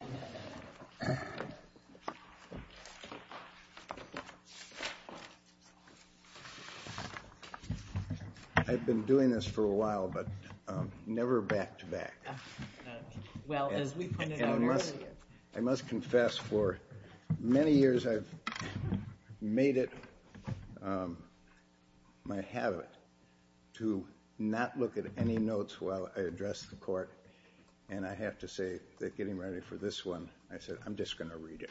I have been doing this for a while but never backed back. I must confess, for many years I have made it my habit to not look at any notes while I address the Court, and I have to say that getting ready for this hearing is not an easy task. This one, I said, I'm just going to read it.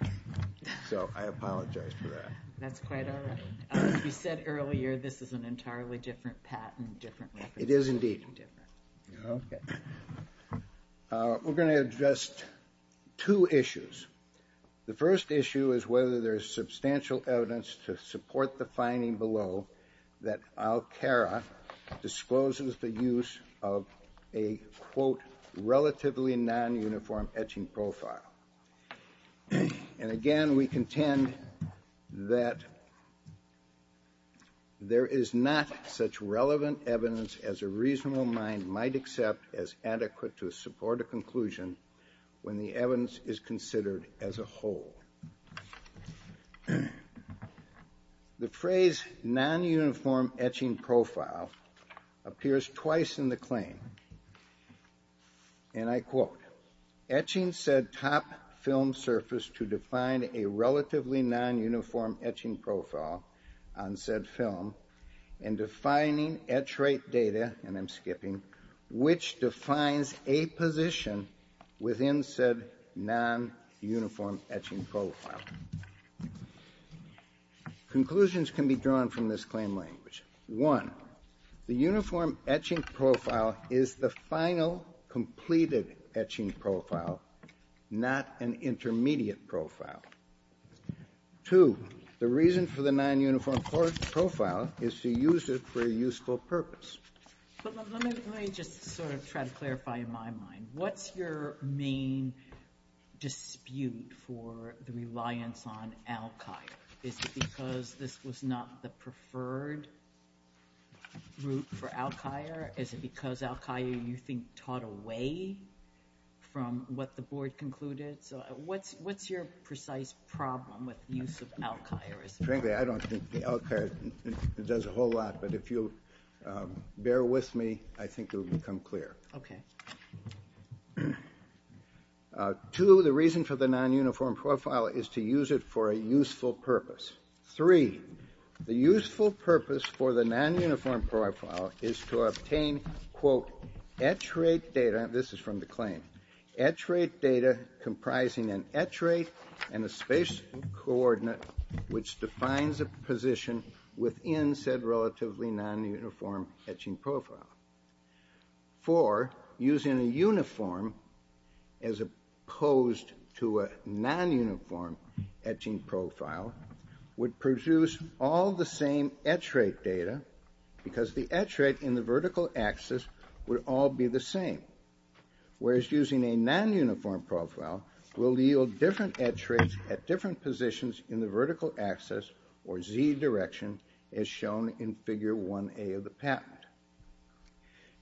So I apologize for that. That's quite all right. You said earlier this is an entirely different patent. It is indeed. Okay. We're going to address two issues. The first issue is whether there is substantial evidence to support the finding below that Alcara discloses the use of a, quote, relatively non-uniform etching profile. And again, we contend that there is not such relevant evidence as a reasonable mind might accept as adequate to support a conclusion when the evidence is considered as a whole. The phrase non-uniform etching profile appears twice in the claim. And I quote, etching said top film surface to define a relatively non-uniform etching profile on said film and defining etch rate data, and I'm skipping, which defines a position within said non-uniform etching profile. Conclusions can be drawn from this claim language. One, the uniform etching profile is the final completed etching profile, not an intermediate profile. Two, the reason for the non-uniform profile is to use it for a useful purpose. Let me just sort of try to clarify in my mind. What's your main dispute for the reliance on Alcira? Is it because this was not the preferred route for Alcira? Is it because Alcira, you think, taught away from what the board concluded? So what's your precise problem with the use of Alcira? Frankly, I don't think Alcira does a whole lot, but if you'll bear with me, I think it will become clear. Okay. Two, the reason for the non-uniform profile is to use it for a useful purpose. Three, the useful purpose for the non-uniform profile is to obtain, quote, etch rate data. This is from the claim. Etch rate data comprising an etch rate and a spatial coordinate which defines a position within said relatively non-uniform etching profile. Four, using a uniform as opposed to a non-uniform etching profile would produce all the same etch rate data because the etch rate in the vertical axis would all be the same. Whereas using a non-uniform profile will yield different etch rates at different positions in the vertical axis or Z direction as shown in figure 1A of the patent.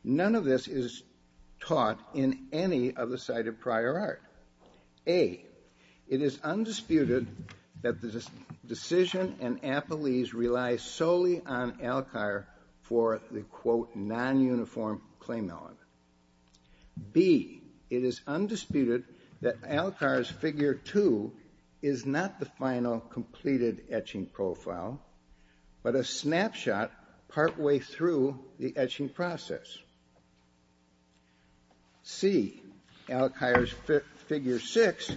None of this is taught in any of the cited prior art. A, it is undisputed that the decision and appellees rely solely on Alcira for the, quote, non-uniform claim element. B, it is undisputed that Alcira's figure 2 is not the final completed etching profile, but a snapshot partway through the etching process. C, Alcira's figure 6,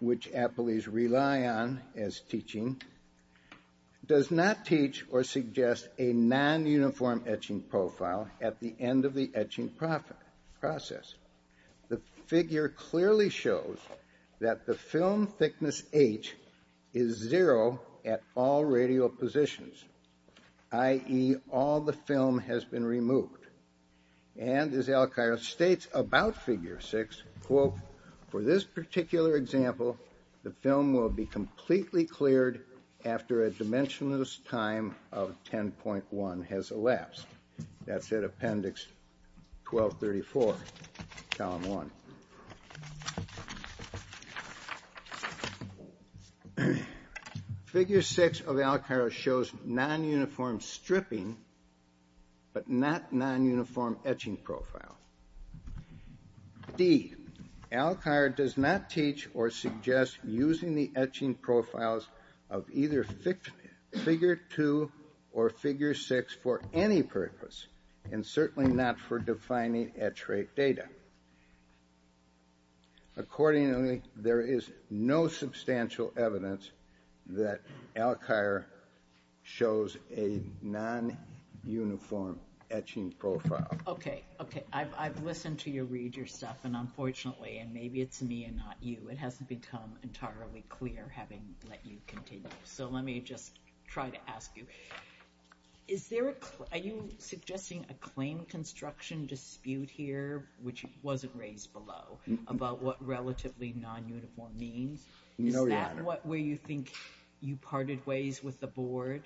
which appellees rely on as teaching, does not teach or suggest a non-uniform etching profile at the end of the etching process. The figure clearly shows that the film thickness H is zero at all radial positions, i.e., all the film has been removed. And as Alcira states about figure 6, quote, for this particular example, the film will be completely cleared after a dimensionless time of 10.1 has elapsed. That's at appendix 1234, column 1. Figure 6 of Alcira shows non-uniform stripping, but not non-uniform etching profile. D, Alcira does not teach or suggest using the etching profiles of either figure 2 or figure 6 for any purpose, and certainly not for defining etch rate data. Accordingly, there is no substantial evidence that Alcira shows a non-uniform etching profile. Okay, okay, I've listened to you read your stuff, and unfortunately, and maybe it's me and not you, it hasn't become entirely clear, having let you continue. So let me just try to ask you. Are you suggesting a claim construction dispute here, which wasn't raised below, about what relatively non-uniform means? No, Your Honor. Is that where you think you parted ways with the board?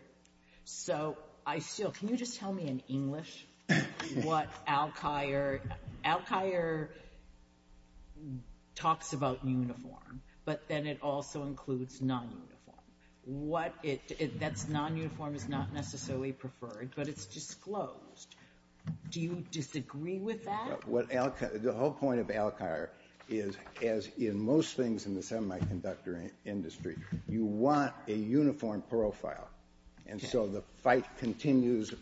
So can you just tell me in English what Alcira talks about uniform, but then it also includes non-uniform? That non-uniform is not necessarily preferred, but it's disclosed. Do you disagree with that? The whole point of Alcira is, as in most things in the semiconductor industry, you want a uniform profile. And so the fight continues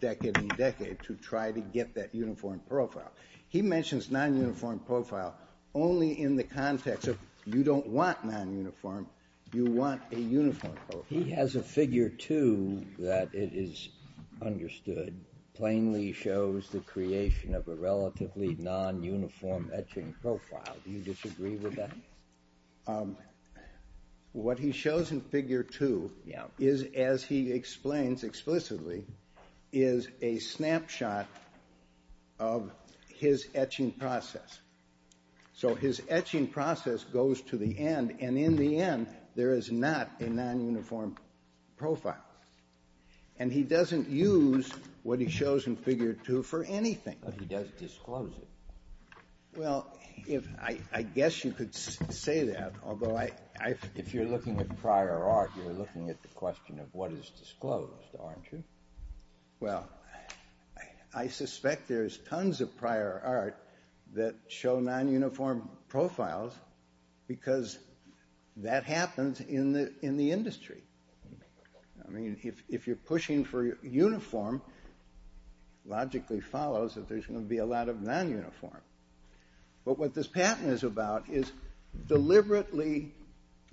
decade and decade to try to get that uniform profile. He mentions non-uniform profile only in the context of you don't want non-uniform, you want a uniform profile. He has a Figure 2 that it is understood plainly shows the creation of a relatively non-uniform etching profile. Do you disagree with that? What he shows in Figure 2 is, as he explains explicitly, is a snapshot of his etching process. So his etching process goes to the end, and in the end, there is not a non-uniform profile. And he doesn't use what he shows in Figure 2 for anything. But he does disclose it. Well, I guess you could say that, although I... If you're looking at prior art, you're looking at the question of what is disclosed, aren't you? Well, I suspect there's tons of prior art that show non-uniform profiles because that happens in the industry. I mean, if you're pushing for uniform, logically follows that there's going to be a lot of non-uniform. But what this pattern is about is deliberately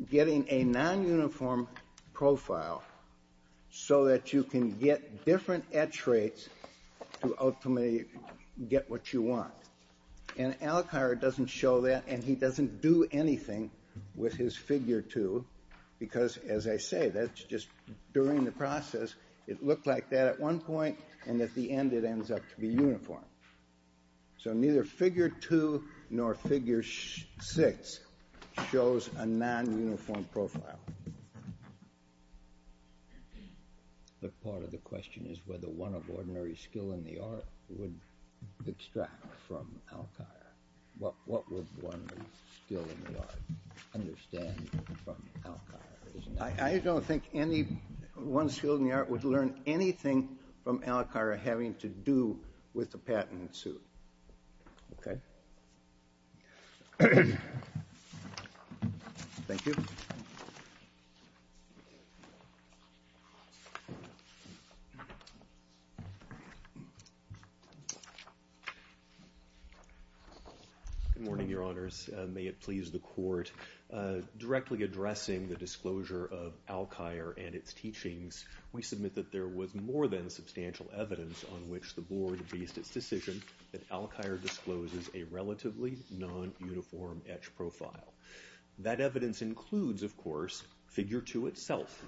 getting a non-uniform profile so that you can get different etch rates to ultimately get what you want. And Alcar doesn't show that, and he doesn't do anything with his Figure 2 because, as I say, that's just during the process. It looked like that at one point, and at the end, it ends up to be uniform. So neither Figure 2 nor Figure 6 shows a non-uniform profile. But part of the question is whether one of ordinary skill in the art would extract from Alcar. What would one with skill in the art understand from Alcar? I don't think one skill in the art would learn anything from Alcar having to do with the patent suit. Okay. Thank you. Good morning, Your Honors. May it please the Court. Directly addressing the disclosure of Alcar and its teachings, we submit that there was more than substantial evidence on which the Board based its decision that Alcar discloses a relatively non-uniform etch profile. That evidence includes, of course, Figure 2 itself,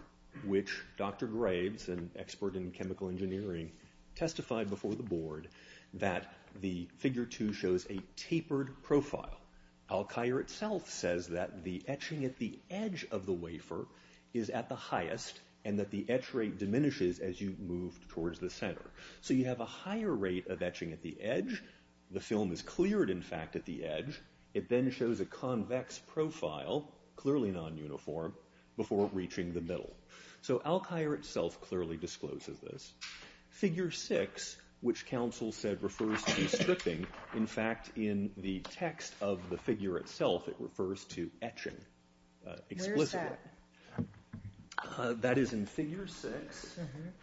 which Dr. Graves, an expert in chemical engineering, testified before the Board that the Figure 2 shows a tapered profile. Alcar itself says that the etching at the edge of the wafer is at the highest and that the etch rate diminishes as you move towards the center. So you have a higher rate of etching at the edge. The film is cleared, in fact, at the edge. It then shows a convex profile, clearly non-uniform, before reaching the middle. So Alcar itself clearly discloses this. Figure 6, which counsel said refers to stripping, in fact, in the text of the figure itself, it refers to etching explicitly. Where is that? That is in Figure 6,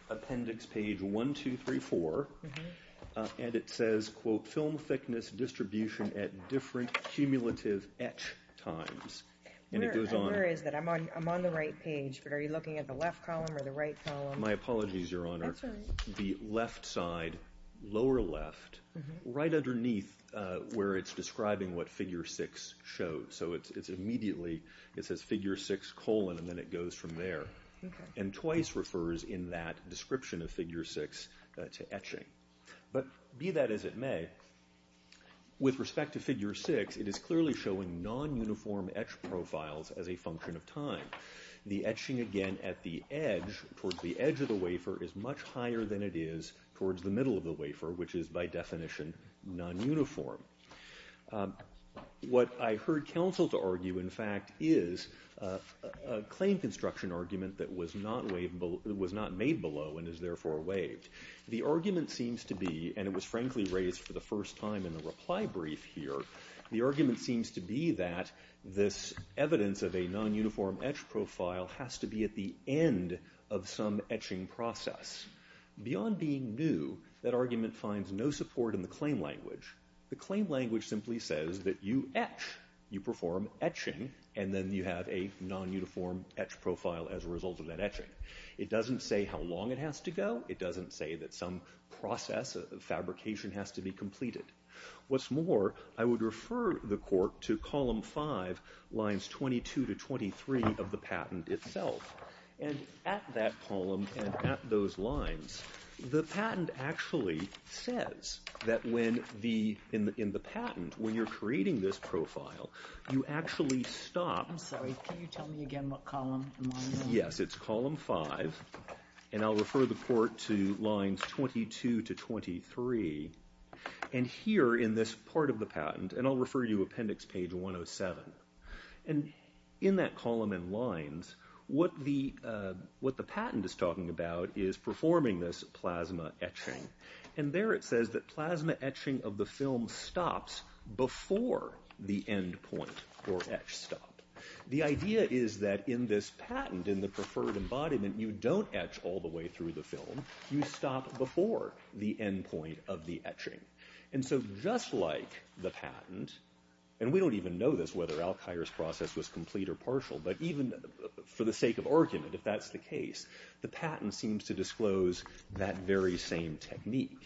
appendix page 1234, and it says, quote, film thickness distribution at different cumulative etch times. Where is that? I'm on the right page, but are you looking at the left column or the right column? My apologies, Your Honor. That's all right. The left side, lower left, right underneath where it's describing what Figure 6 shows. So it's immediately, it says Figure 6 colon, and then it goes from there. And twice refers in that description of Figure 6 to etching. But be that as it may, with respect to Figure 6, it is clearly showing non-uniform etch profiles as a function of time. The etching, again, at the edge, towards the edge of the wafer, is much higher than it is towards the middle of the wafer, which is by definition non-uniform. What I heard counsel to argue, in fact, is a claim construction argument that was not made below and is therefore waived. The argument seems to be, and it was frankly raised for the first time in the reply brief here, the argument seems to be that this evidence of a non-uniform etch profile has to be at the end of some etching process. Beyond being new, that argument finds no support in the claim language. The claim language simply says that you etch. You perform etching, and then you have a non-uniform etch profile as a result of that etching. It doesn't say how long it has to go. It doesn't say that some process of fabrication has to be completed. What's more, I would refer the court to column 5, lines 22 to 23 of the patent itself. At that column and at those lines, the patent actually says that in the patent, when you're creating this profile, you actually stop. I'm sorry, can you tell me again what column and what I mean? Yes, it's column 5, and I'll refer the court to lines 22 to 23. Here in this part of the patent, and I'll refer you to appendix page 107. In that column and lines, what the patent is talking about is performing this plasma etching. There it says that plasma etching of the film stops before the end point, or etch stop. The idea is that in this patent, in the preferred embodiment, you don't etch all the way through the film. You stop before the end point of the etching. Just like the patent, and we don't even know this, whether Alkire's process was complete or partial, but even for the sake of argument, if that's the case, the patent seems to disclose that very same technique.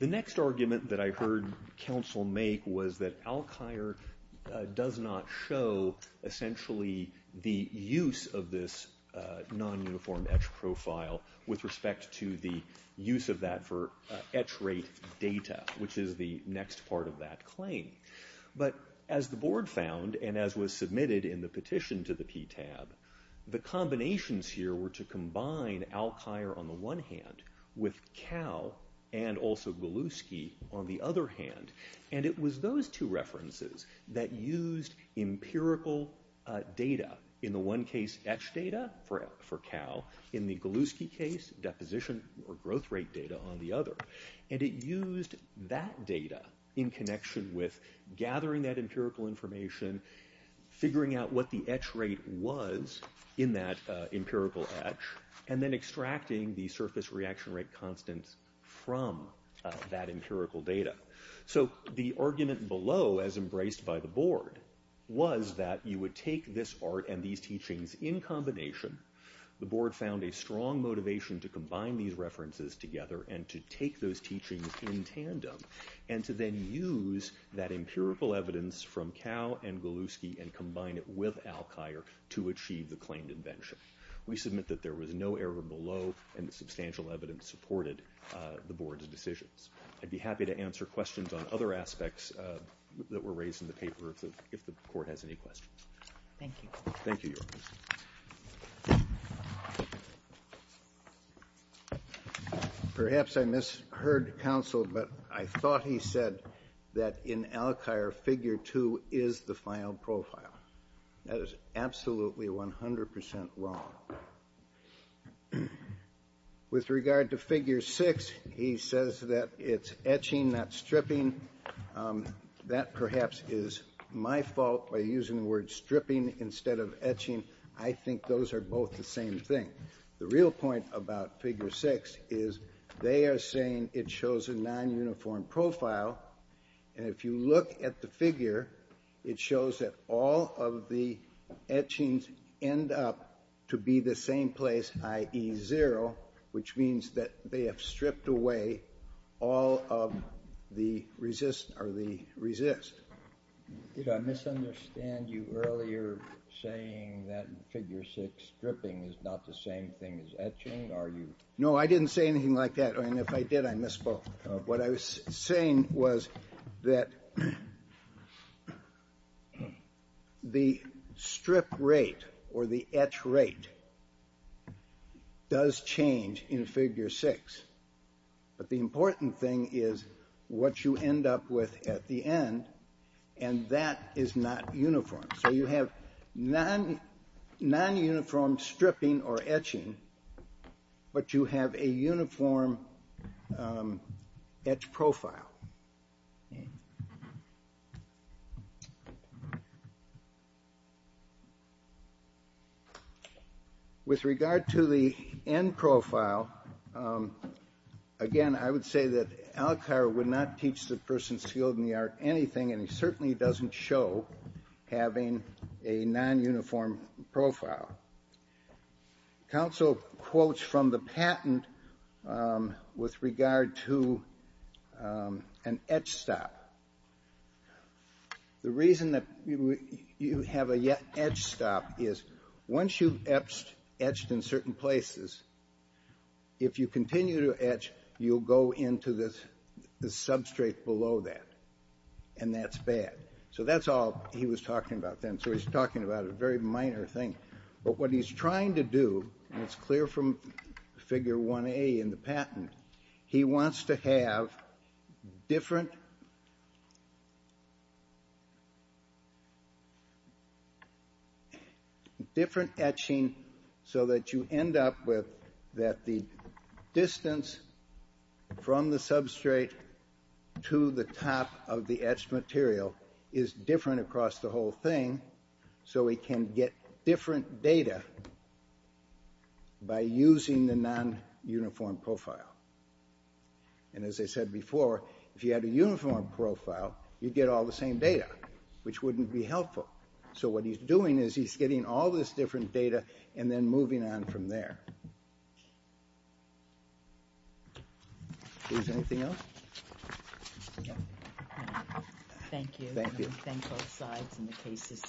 The next argument that I heard counsel make was that Alkire does not show, essentially, the use of this non-uniform etch profile with respect to the use of that for etch rate data, which is the next part of that claim. But as the board found, and as was submitted in the petition to the PTAB, the combinations here were to combine Alkire, on the one hand, with Kao, and also Goluski, on the other hand. And it was those two references that used empirical data. In the one case, etch data for Kao. In the Goluski case, deposition or growth rate data on the other. And it used that data in connection with gathering that empirical information, figuring out what the etch rate was in that empirical etch, and then extracting the surface reaction rate constants from that empirical data. So the argument below, as embraced by the board, was that you would take this art and these teachings in combination. The board found a strong motivation to combine these references together and to take those teachings in tandem, and to then use that empirical evidence from Kao and Goluski and combine it with Alkire to achieve the claimed invention. We submit that there was no error below, and the substantial evidence supported the board's decisions. I'd be happy to answer questions on other aspects that were raised in the paper, if the court has any questions. Thank you. Thank you, Your Honor. Perhaps I misheard counsel, but I thought he said that in Alkire, figure 2 is the final profile. That is absolutely 100 percent wrong. Now, with regard to figure 6, he says that it's etching, not stripping. That perhaps is my fault by using the word stripping instead of etching. I think those are both the same thing. The real point about figure 6 is they are saying it shows a non-uniform profile, and if you look at the figure, it shows that all of the etchings end up to be the same place, i.e. 0, which means that they have stripped away all of the resist. Did I misunderstand you earlier saying that figure 6 stripping is not the same thing as etching? No, I didn't say anything like that, and if I did, I misspoke. What I was saying was that the strip rate or the etch rate does change in figure 6, but the important thing is what you end up with at the end, and that is not uniform. So you have non-uniform stripping or etching, but you have a uniform etch profile. With regard to the end profile, again, I would say that Alcar would not teach the person skilled in the art anything, and he certainly doesn't show having a non-uniform profile. Counsel quotes from the patent with regard to an etch stop. The reason that you have an etch stop is once you've etched in certain places, if you continue to etch, you'll go into the substrate below that, and that's bad. So that's all he was talking about then. So he's talking about a very minor thing. But what he's trying to do, and it's clear from figure 1A in the patent, he wants to have different etching so that you end up with that the distance from the substrate to the top of the etched material is different across the whole thing, so he can get different data by using the non-uniform profile. And as I said before, if you had a uniform profile, you'd get all the same data, which wouldn't be helpful. So what he's doing is he's getting all this different data and then moving on from there. Is there anything else? Okay. Thank you. Thank you. We thank both sides in the cases.